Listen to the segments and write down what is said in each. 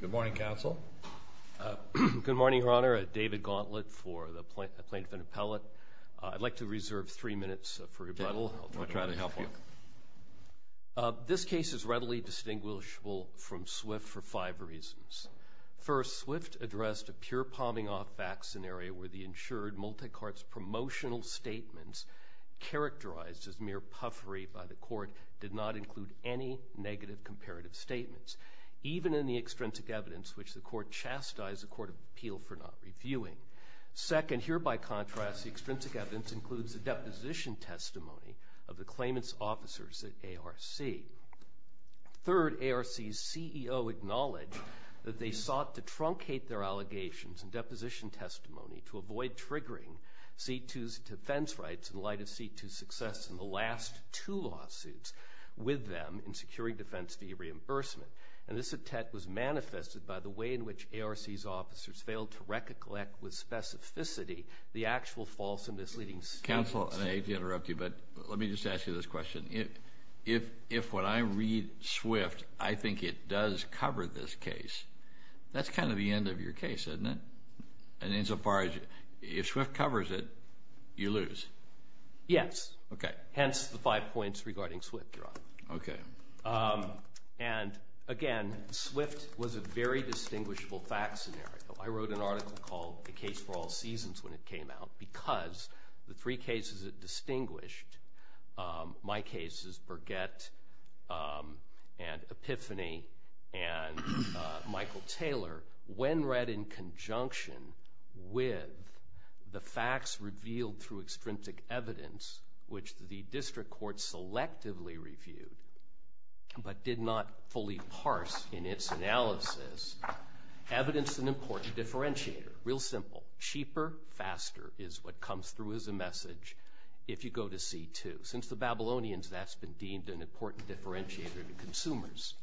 Good morning, Counsel. Good morning, Your Honor. David Gauntlet for the Plaintiff and Appellate. I'd like to reserve three minutes for rebuttal. This case is readily distinguishable from Swift for five reasons. First, Swift addressed a pure palming-off vaccine area where the insured multi-carts promotional statements, characterized as mere puffery by the court, did not include any negative comparative statements. Even in the extrinsic evidence, which the court chastised the Court of Appeal for not reviewing. Second, here by contrast, the extrinsic evidence includes the deposition testimony of the claimant's officers at ARC. Third, ARC's CEO acknowledged that they sought to truncate their allegations and deposition testimony to avoid triggering C2's defense rights in light of C2's success in the last two lawsuits with them in securing defense fee reimbursement, and this attack was manifested by the way in which ARC's officers failed to recollect with specificity the actual false and misleading statements. Counsel, I hate to interrupt you, but let me just ask you this question. If when I read Swift, I think it does cover this case, that's kind of the end of your case, isn't it? And insofar as, if Swift covers it, you lose. Yes. Okay. Hence the five points regarding Swift, Your Honor. Okay. And again, Swift was a very distinguishable fact scenario. I wrote an article called The Case for All Seasons when it came out because the three cases it distinguished, my cases, Burgett and Epiphany and Michael Taylor, when read in conjunction with the facts revealed through extrinsic evidence, which the district court selectively reviewed, but did not fully parse in its analysis, evidence is an important differentiator. Real simple. Cheaper, faster is what comes through as a message if you go to C2. Since the Babylonians, that's been deemed an important differentiator to consumers.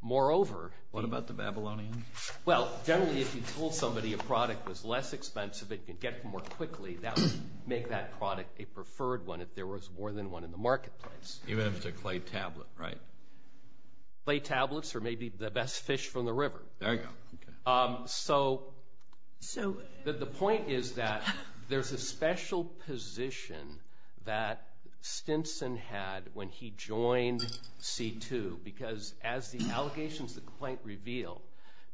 Moreover- What about the Babylonians? Well, generally, if you told somebody a product was less expensive, it could get more quickly, that would make that product a preferred one if there was more than one in the marketplace. Even if it's a clay tablet, right? Clay tablets are maybe the best fish from the river. There you go. Okay. So- So- The point is that there's a special position that Stinson had when he joined C2 because as the allegations, the complaint revealed,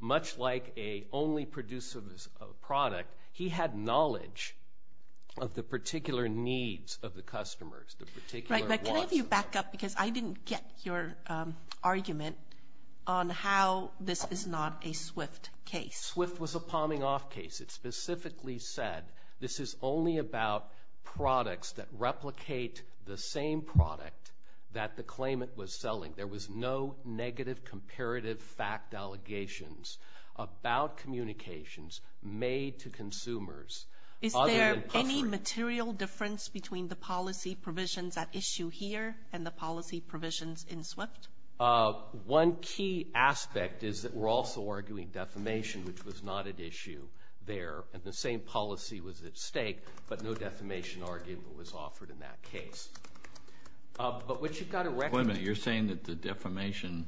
much like a only producer of a product, he had knowledge of the particular needs of the customers, the particular wants- Right. But can I have you back up because I didn't get your argument on how this is not a SWIFT case. SWIFT was a palming off case. It specifically said this is only about products that replicate the same product that the claimant was selling. There was no negative comparative fact allegations about communications made to consumers- Is there any material difference between the policy provisions at issue here and the policy provisions in SWIFT? One key aspect is that we're also arguing defamation, which was not at issue there. The same policy was at stake, but no defamation argument was offered in that case. But what you've got to- Wait a minute. You're saying that the defamation,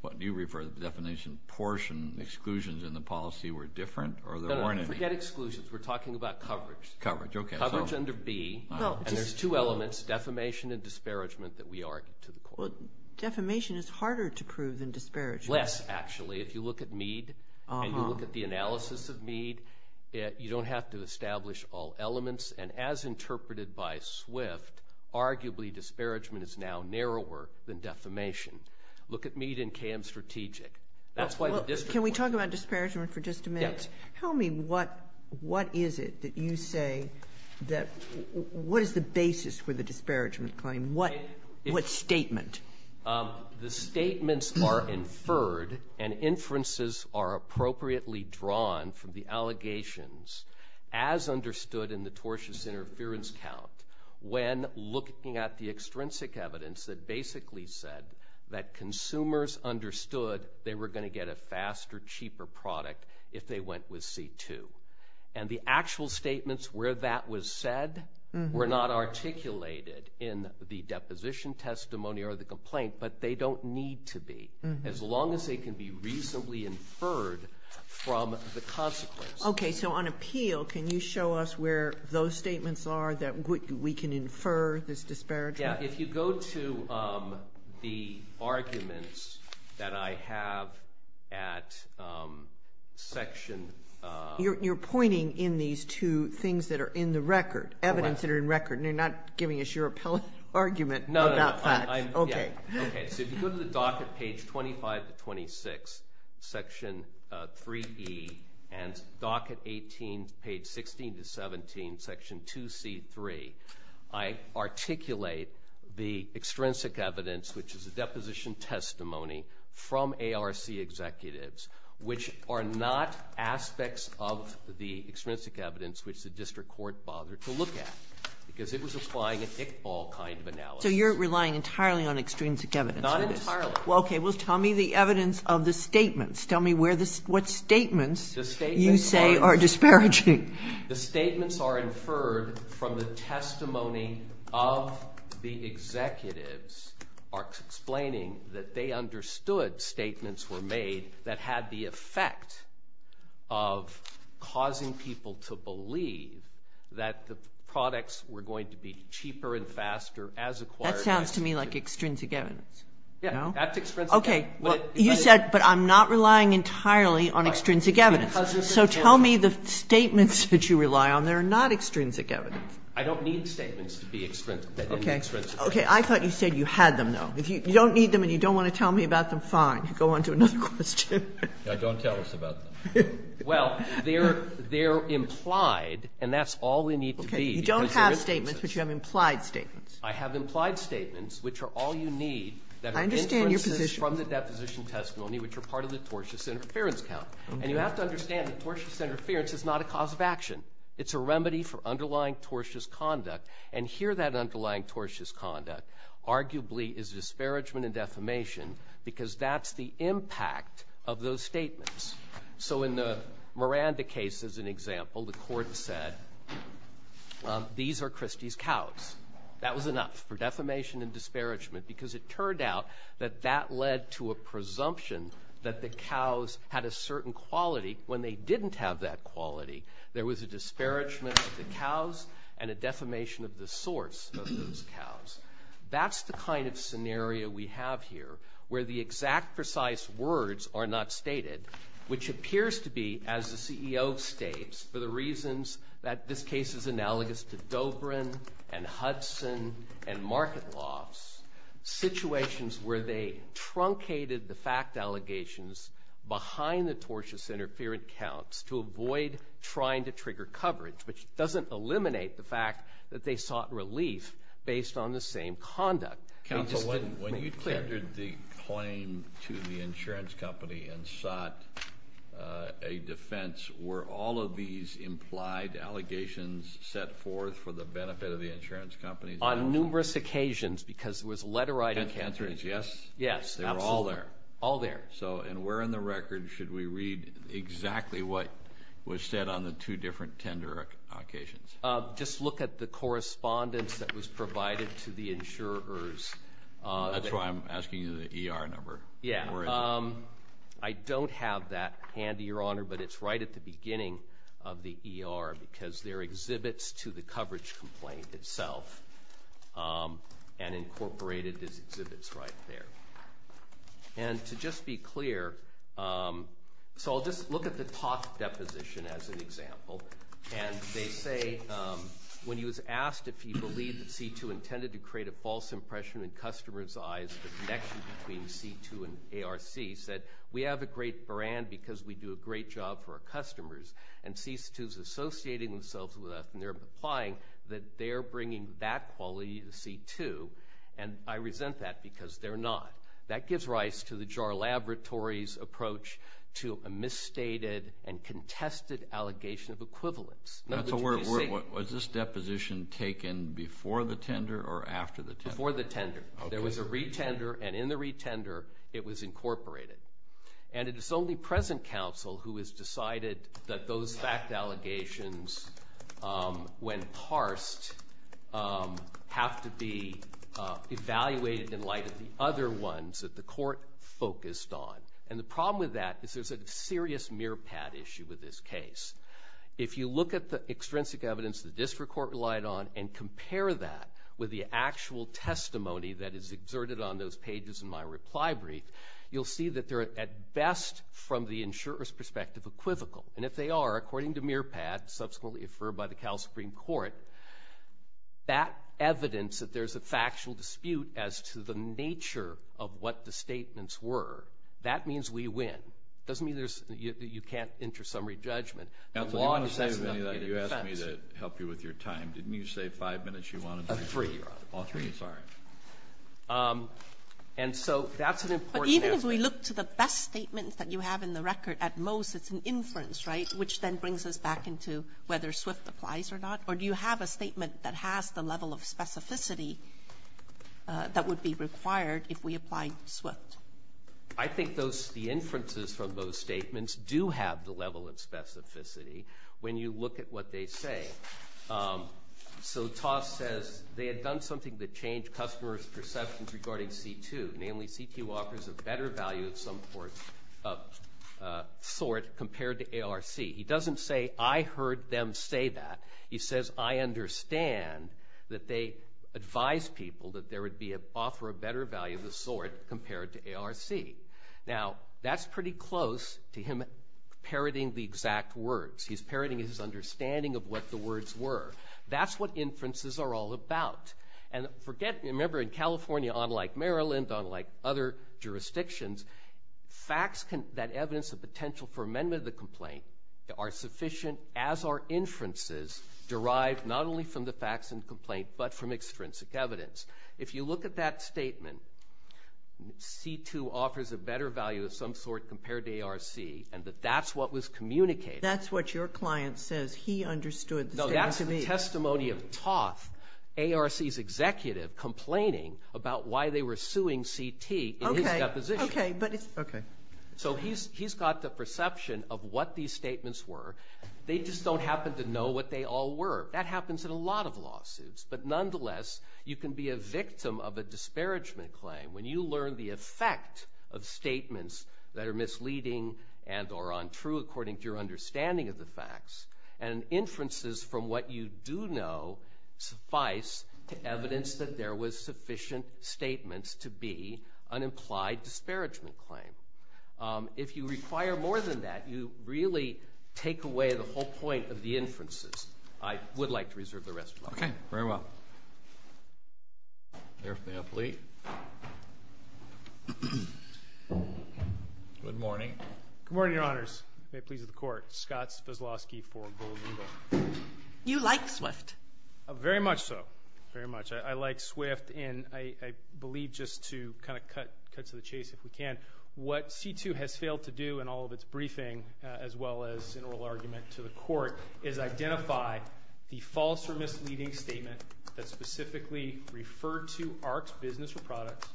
what do you refer to the defamation portion, exclusions in the policy were different or there weren't any? No, no. Forget exclusions. We're talking about coverage. Coverage. Okay. So- Coverage under B. Well, just- And there's two elements, defamation and disparagement, that we argued to the court. Well, defamation is harder to prove than disparagement. Less, actually. If you look at Mead and you look at the analysis of Mead, you don't have to establish all of that. It's much narrower than defamation. Look at Mead and KM Strategic. That's why the- Well, can we talk about disparagement for just a minute? Yes. Tell me, what is it that you say that, what is the basis for the disparagement claim? What statement? The statements are inferred and inferences are appropriately drawn from the allegations, as understood in the tortious interference count, when looking at the extrinsic evidence that basically said that consumers understood they were going to get a faster, cheaper product if they went with C2. And the actual statements where that was said were not articulated in the deposition testimony or the complaint, but they don't need to be, as long as they can be reasonably inferred from the consequences. Okay. So on appeal, can you show us where those statements are that we can infer this disparagement? Yeah. If you go to the arguments that I have at section- You're pointing in these two things that are in the record, evidence that are in record, and you're not giving us your appellate argument about that. No, no, no. I'm- Okay. Okay. So if you go to the docket, page 25 to 26, section 3E, and docket 18, page 16 to 17, section 2C3, I articulate the extrinsic evidence, which is a deposition testimony from ARC executives, which are not aspects of the extrinsic evidence which the district court bothered to look at, because it was applying a dickball kind of analysis. So you're relying entirely on extrinsic evidence. Not entirely. Okay. Well, tell me the evidence of the statements. Tell me what statements you say are disparaging. The statements are inferred from the testimony of the executives, ARC's explaining that they understood statements were made that had the effect of causing people to believe that the products were going to be cheaper and faster as acquired- That sounds to me like extrinsic evidence. Yeah. That's extrinsic evidence. Okay. You said, but I'm not relying entirely on extrinsic evidence. So tell me the statements that you rely on. They're not extrinsic evidence. I don't need statements to be extrinsic. Okay. Okay. I thought you said you had them, though. If you don't need them and you don't want to tell me about them, fine. Go on to another question. Don't tell us about them. Well, they're implied, and that's all we need to be. Okay. You don't have statements, but you have implied statements. I have implied statements, which are all you need that are extrinsic from the deposition testimony, which are part of the tortious interference count. And you have to understand that tortious interference is not a cause of action. It's a remedy for underlying tortious conduct. And here that underlying tortious conduct arguably is disparagement and defamation because that's the impact of those statements. So in the Miranda case, as an example, the court said, these are Christie's cows. That was enough for defamation and disparagement because it turned out that that led to a certain quality when they didn't have that quality. There was a disparagement of the cows and a defamation of the source of those cows. That's the kind of scenario we have here where the exact precise words are not stated, which appears to be, as the CEO states, for the reasons that this case is analogous to Dobrin and Hudson and market lofts, situations where they truncated the fact allegations behind the tortious interference counts to avoid trying to trigger coverage, which doesn't eliminate the fact that they sought relief based on the same conduct. Counsel, when you tendered the claim to the insurance company and sought a defense, were all of these implied allegations set forth for the benefit of the insurance company? On numerous occasions because it was letter-writing. And the answer is yes? Yes, absolutely. They were all there? They were all there. And where in the record should we read exactly what was said on the two different tender occasions? Just look at the correspondence that was provided to the insurers. That's why I'm asking you the ER number. I don't have that handy, Your Honor, but it's right at the beginning of the ER because there are exhibits to the coverage complaint itself and incorporated as exhibits right there. And to just be clear, so I'll just look at the top deposition as an example, and they say when he was asked if he believed that C2 intended to create a false impression in customers' eyes, the connection between C2 and ARC said, we have a great brand because we do a great job for our customers. And C2 is associating themselves with us, and they're implying that they're bringing that quality to C2. And I resent that because they're not. That gives rise to the JAR Laboratories' approach to a misstated and contested allegation of equivalence. Was this deposition taken before the tender or after the tender? Before the tender. There was a retender, and in the retender, it was incorporated. And it is only present counsel who has decided that those fact allegations, when parsed, have to be evaluated in light of the other ones that the court focused on. And the problem with that is there's a serious mearpad issue with this case. If you look at the extrinsic evidence the district court relied on and compare that with the actual testimony that is exerted on those pages in my reply brief, you'll see that they're, at best, from the insurer's perspective, equivocal. And if they are, according to mearpad, subsequently affirmed by the Cal Supreme Court, that evidence that there's a factual dispute as to the nature of what the statements were, that means we win. It doesn't mean you can't enter summary judgment. Counsel, do you want to say anything? You asked me to help you with your time. Didn't you say five minutes you wanted to do? Three. All three, sorry. And so that's an important aspect. But even if we look to the best statements that you have in the record, at most it's an inference, right, which then brings us back into whether SWIFT applies or not? Or do you have a statement that has the level of specificity that would be required if we applied SWIFT? I think those the inferences from those statements do have the level of specificity when you look at what they say. So Toss says, they had done something that changed customers' perceptions regarding C2, namely C2 offers a better value of some sort compared to ARC. He doesn't say, I heard them say that. He says, I understand that they advised people that there would offer a better value of the sort compared to ARC. Now, that's pretty close to him parroting the exact words. He's parroting his understanding of what the words were. That's what inferences are all about. And remember, in California, unlike Maryland, unlike other jurisdictions, facts that evidence the potential for amendment of the complaint are sufficient as are inferences derived not only from the facts in the complaint but from extrinsic evidence. If you look at that statement, C2 offers a better value of some sort compared to ARC, and that that's what was communicated. That's what your client says he understood the statement to be. No, that's the testimony of Toth, ARC's executive, complaining about why they were suing CT in his deposition. Okay, but it's okay. So he's got the perception of what these statements were. They just don't happen to know what they all were. That happens in a lot of lawsuits. But nonetheless, you can be a victim of a disparagement claim when you learn the effect of statements that are misleading and are untrue according to your understanding of the facts. And inferences from what you do know suffice to evidence that there was sufficient statements to be an implied disparagement claim. If you require more than that, you really take away the whole point of the inferences. I would like to reserve the rest of my time. Okay, very well. Bear with me, I'm late. Good morning. Good morning, Your Honors. May it please the Court. Scott Veselosky for Golden Eagle. You like Swift. Very much so. Very much. I like Swift, and I believe just to kind of cut to the chase if we can, what C2 has failed to do in all of its briefing as well as in oral argument to the Court is identify the false or misleading statement that specifically referred to AHRQ's business or products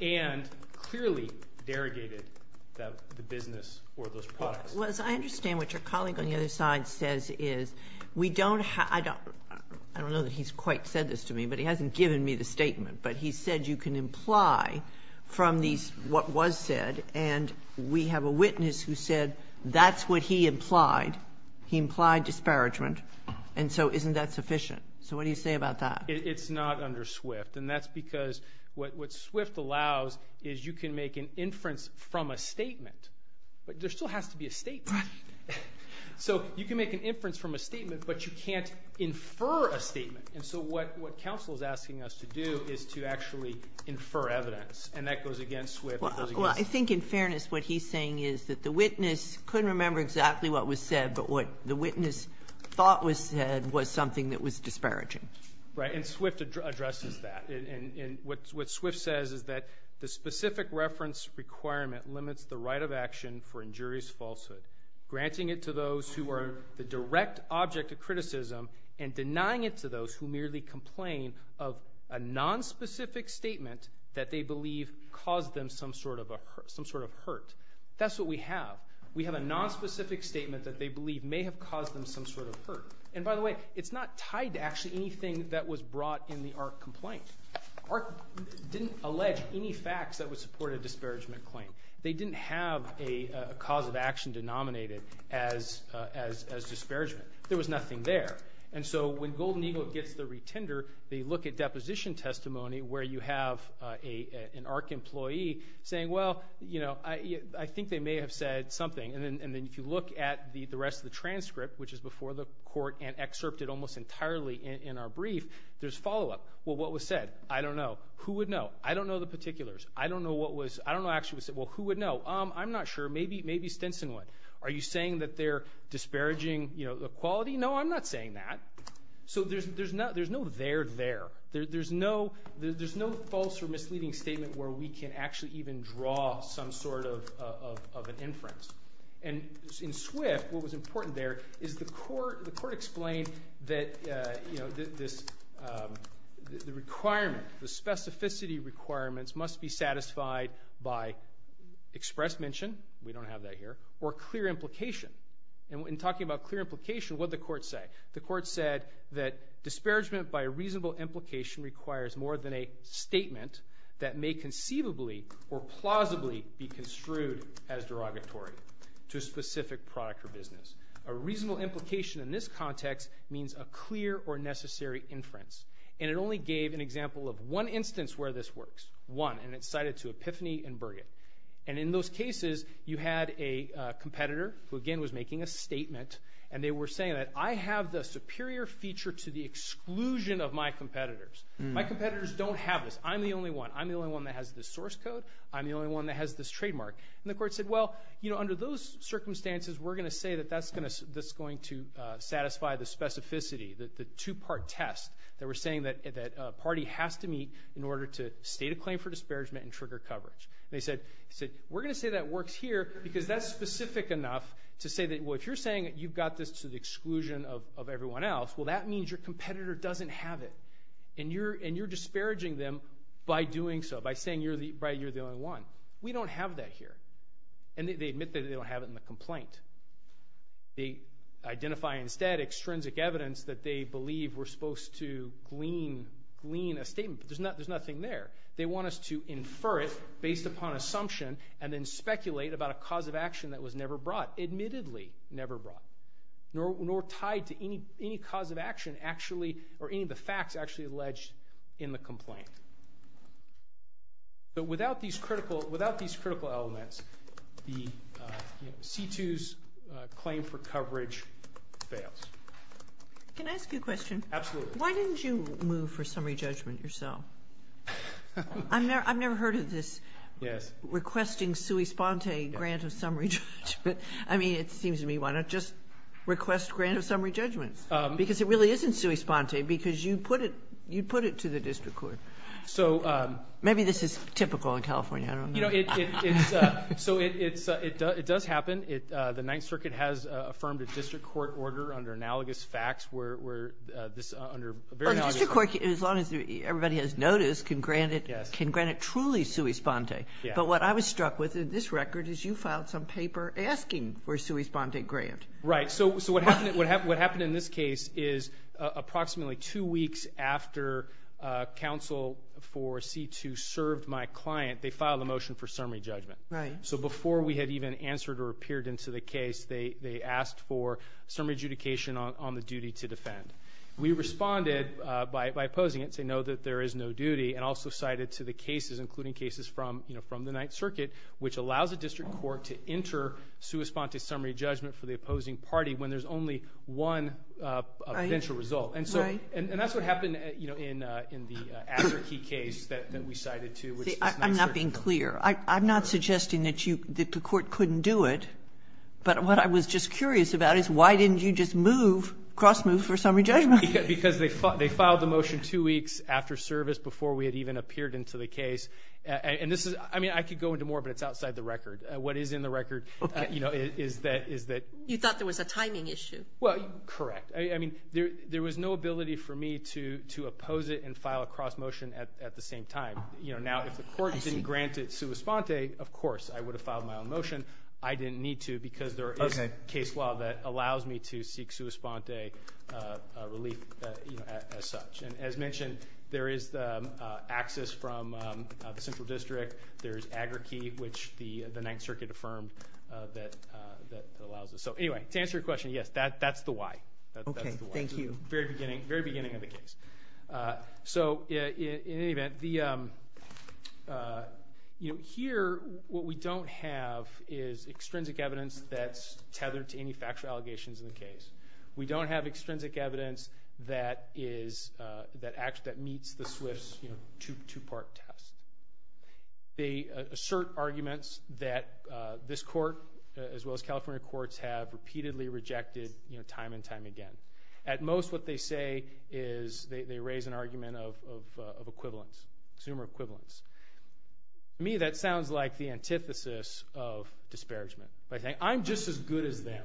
and clearly derogated the business or those products. Well, as I understand what your colleague on the other side says is we don't have to – I don't know that he's quite said this to me, but he hasn't given me the statement. But he said you can imply from these what was said, and we have a witness who said that's what he implied. He implied disparagement, and so isn't that sufficient? So what do you say about that? It's not under Swift, and that's because what Swift allows is you can make an inference from a statement, but there still has to be a statement. Right. So you can make an inference from a statement, but you can't infer a statement. And so what counsel is asking us to do is to actually infer evidence, and that goes against Swift. Well, I think in fairness what he's saying is that the witness couldn't remember exactly what was said, but what the witness thought was said was something that was disparaging. Right. And Swift addresses that. And what Swift says is that the specific reference requirement limits the right of action for injurious falsehood, granting it to those who are the direct object of criticism and denying it to those who merely complain of a nonspecific statement that they believe caused them some sort of hurt. That's what we have. We have a nonspecific statement that they believe may have caused them some sort of hurt. And by the way, it's not tied to actually anything that was brought in the ARC complaint. ARC didn't allege any facts that would support a disparagement claim. They didn't have a cause of action denominated as disparagement. There was nothing there. And so when Golden Eagle gets the retender, they look at deposition testimony where you have an ARC employee saying, well, you know, I think they may have said something. And then if you look at the rest of the transcript, which is before the court and excerpted almost entirely in our brief, there's follow-up. Well, what was said? I don't know. Who would know? I don't know the particulars. I don't know what was actually said. Well, who would know? I'm not sure. Maybe Stinson would. Are you saying that they're disparaging the quality? No, I'm not saying that. So there's no there there. There's no false or misleading statement where we can actually even draw some sort of an inference. And in SWIFT, what was important there is the court explained that, you know, the requirement, the specificity requirements must be satisfied by express mention. We don't have that here. Or clear implication. And in talking about clear implication, what did the court say? The court said that disparagement by a reasonable implication requires more than a statement that may conceivably or plausibly be construed as derogatory to a specific product or business. A reasonable implication in this context means a clear or necessary inference. And it only gave an example of one instance where this works, one, and it's cited to Epiphany and Burgett. And in those cases, you had a competitor who, again, was making a statement, and they were saying that I have the superior feature to the exclusion of my competitors. My competitors don't have this. I'm the only one. I'm the only one that has this source code. I'm the only one that has this trademark. And the court said, well, you know, under those circumstances, we're going to say that that's going to satisfy the specificity, the two-part test, that we're saying that a party has to meet in order to state a claim for disparagement and trigger coverage. And they said, we're going to say that works here because that's specific enough to say that, well, if you're saying that you've got this to the exclusion of everyone else, well, that means your competitor doesn't have it. And you're disparaging them by doing so, by saying you're the only one. We don't have that here. And they admit that they don't have it in the complaint. They identify instead extrinsic evidence that they believe we're supposed to glean a statement, but there's nothing there. They want us to infer it based upon assumption and then speculate about a cause of action that was never brought, admittedly never brought, nor tied to any cause of action actually or any of the facts actually alleged in the complaint. But without these critical elements, the C2's claim for coverage fails. Can I ask you a question? Absolutely. Why didn't you move for summary judgment yourself? I've never heard of this requesting sui sponte grant of summary judgment. I mean, it seems to me, why not just request grant of summary judgments? Because it really isn't sui sponte because you put it to the district court. Maybe this is typical in California. I don't know. So it does happen. The Ninth Circuit has affirmed a district court order under analogous facts. A district court, as long as everybody has noticed, can grant it truly sui sponte. But what I was struck with in this record is you filed some paper asking for a sui sponte grant. Right. So what happened in this case is approximately two weeks after counsel for C2 served my client, they filed a motion for summary judgment. Right. So before we had even answered or appeared into the case, they asked for summary adjudication on the duty to defend. We responded by opposing it to know that there is no duty and also cited to the cases, including cases from the Ninth Circuit, which allows a district court to enter sui sponte summary judgment for the opposing party when there's only one eventual result. Right. And that's what happened in the Azarkey case that we cited to. I'm not being clear. I'm not suggesting that you, that the court couldn't do it. But what I was just curious about is why didn't you just move, cross move for summary judgment? Because they filed the motion two weeks after service before we had even appeared into the case. And this is, I mean, I could go into more, but it's outside the record. What is in the record, you know, is that. You thought there was a timing issue. Well, correct. I mean, there was no ability for me to oppose it and file a cross motion at the same time. You know, now if the court didn't grant it sui sponte, of course, I would have filed my own motion. I didn't need to because there is a case law that allows me to seek sui sponte relief as such. And as mentioned, there is the access from the central district. There's agri-key, which the Ninth Circuit affirmed that allows us. So anyway, to answer your question, yes, that's the why. Okay, thank you. Very beginning, very beginning of the case. So in any event, you know, here what we don't have is extrinsic evidence that's tethered to any factual allegations in the case. We don't have extrinsic evidence that meets the SWIFT's two-part test. They assert arguments that this court as well as California courts have repeatedly rejected time and time again. At most, what they say is they raise an argument of equivalence, consumer equivalence. To me, that sounds like the antithesis of disparagement by saying, I'm just as good as them.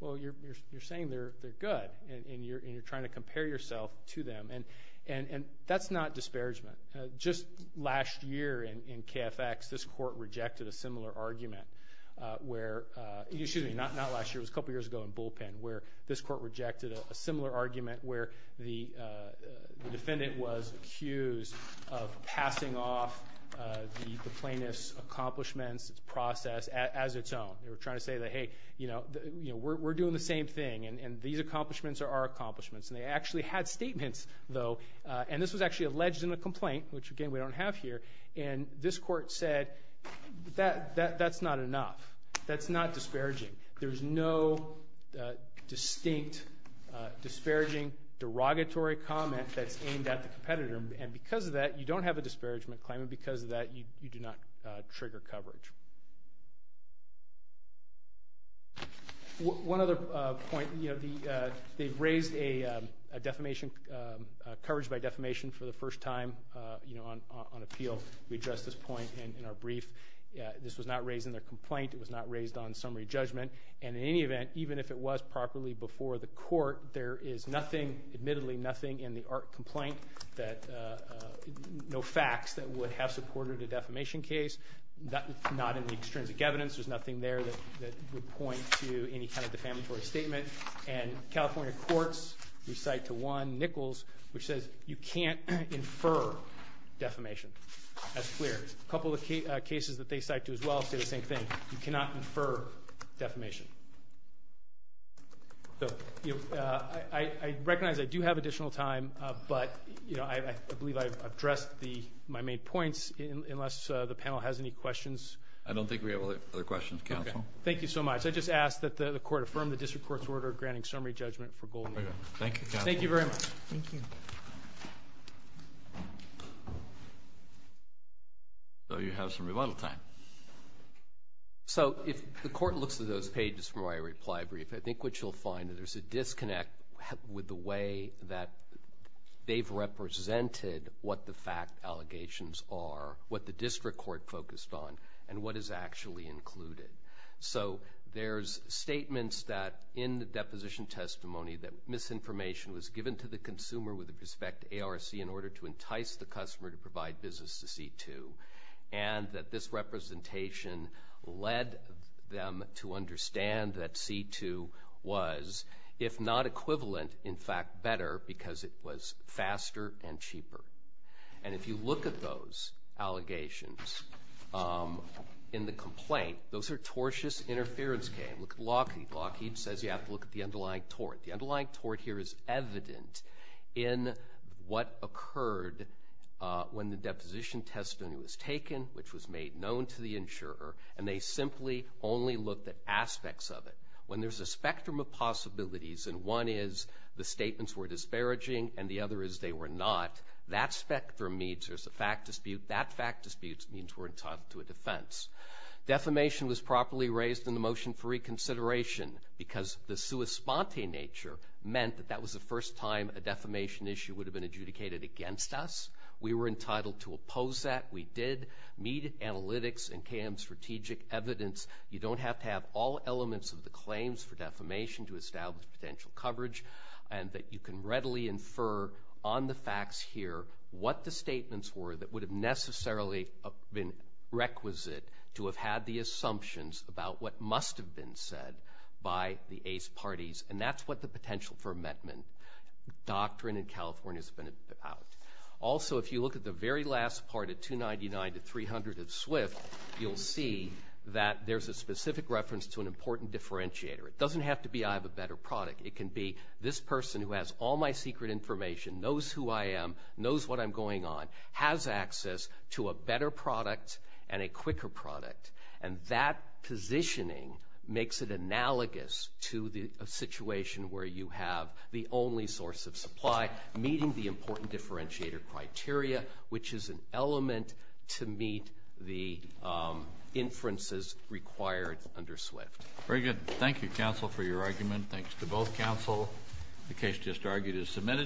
Well, you're saying they're good, and you're trying to compare yourself to them. And that's not disparagement. Just last year in KFX, this court rejected a similar argument where – excuse me, not last year. It was a couple years ago in Bullpen where this court rejected a similar argument where the defendant was accused of passing off the plaintiff's accomplishments, its process, as its own. They were trying to say that, hey, you know, we're doing the same thing, and these accomplishments are our accomplishments. And they actually had statements, though, and this was actually alleged in the complaint, which, again, we don't have here. And this court said, that's not enough. That's not disparaging. There's no distinct disparaging derogatory comment that's aimed at the competitor, and because of that, you don't have a disparagement claim, and because of that, you do not trigger coverage. One other point, you know, they've raised a defamation, coverage by defamation for the first time, you know, on appeal. We addressed this point in our brief. This was not raised in their complaint. It was not raised on summary judgment. And in any event, even if it was properly before the court, there is nothing, admittedly nothing in the ART complaint that no facts that would have supported a defamation case, not in the extrinsic evidence. There's nothing there that would point to any kind of defamatory statement. And California courts recite to Juan Nichols, which says, you can't infer defamation. That's clear. A couple of cases that they cite to as well say the same thing. You cannot infer defamation. I recognize I do have additional time, but I believe I've addressed my main points unless the panel has any questions. I don't think we have other questions, counsel. Thank you so much. I just ask that the court affirm the district court's order granting summary judgment for Goldman. Thank you, counsel. Thank you very much. Thank you. So you have some rebuttal time. So if the court looks at those pages from my reply brief, I think what you'll find is there's a disconnect with the way that they've represented what the fact allegations are, what the district court focused on, and what is actually included. So there's statements that in the deposition testimony that misinformation was given to the consumer with respect to ARC in order to entice the customer to purchase a C2, and that this representation led them to understand that C2 was, if not equivalent, in fact, better because it was faster and cheaper. And if you look at those allegations in the complaint, those are tortious interference games. Look at Lockheed. Lockheed says you have to look at the underlying tort. The underlying tort here is evident in what occurred when the deposition testimony was taken, which was made known to the insurer, and they simply only looked at aspects of it. When there's a spectrum of possibilities, and one is the statements were disparaging and the other is they were not, that spectrum means there's a fact dispute. That fact dispute means we're entitled to a defense. Defamation was properly raised in the motion for reconsideration because the response in nature meant that that was the first time a defamation issue would have been adjudicated against us. We were entitled to oppose that. We did meet analytics and CAM strategic evidence. You don't have to have all elements of the claims for defamation to establish potential coverage, and that you can readily infer on the facts here what the statements were that would have necessarily been requisite to have had the assumptions about what parties, and that's what the potential for amendment doctrine in California has been about. Also, if you look at the very last part of 299 to 300 of SWIFT, you'll see that there's a specific reference to an important differentiator. It doesn't have to be I have a better product. It can be this person who has all my secret information, knows who I am, knows what I'm going on, has access to a better product and a quicker product, and that positioning makes it analogous to the situation where you have the only source of supply meeting the important differentiator criteria, which is an element to meet the inferences required under SWIFT. Very good. Thank you, counsel, for your argument. Thanks to both counsel. The case just argued is submitted.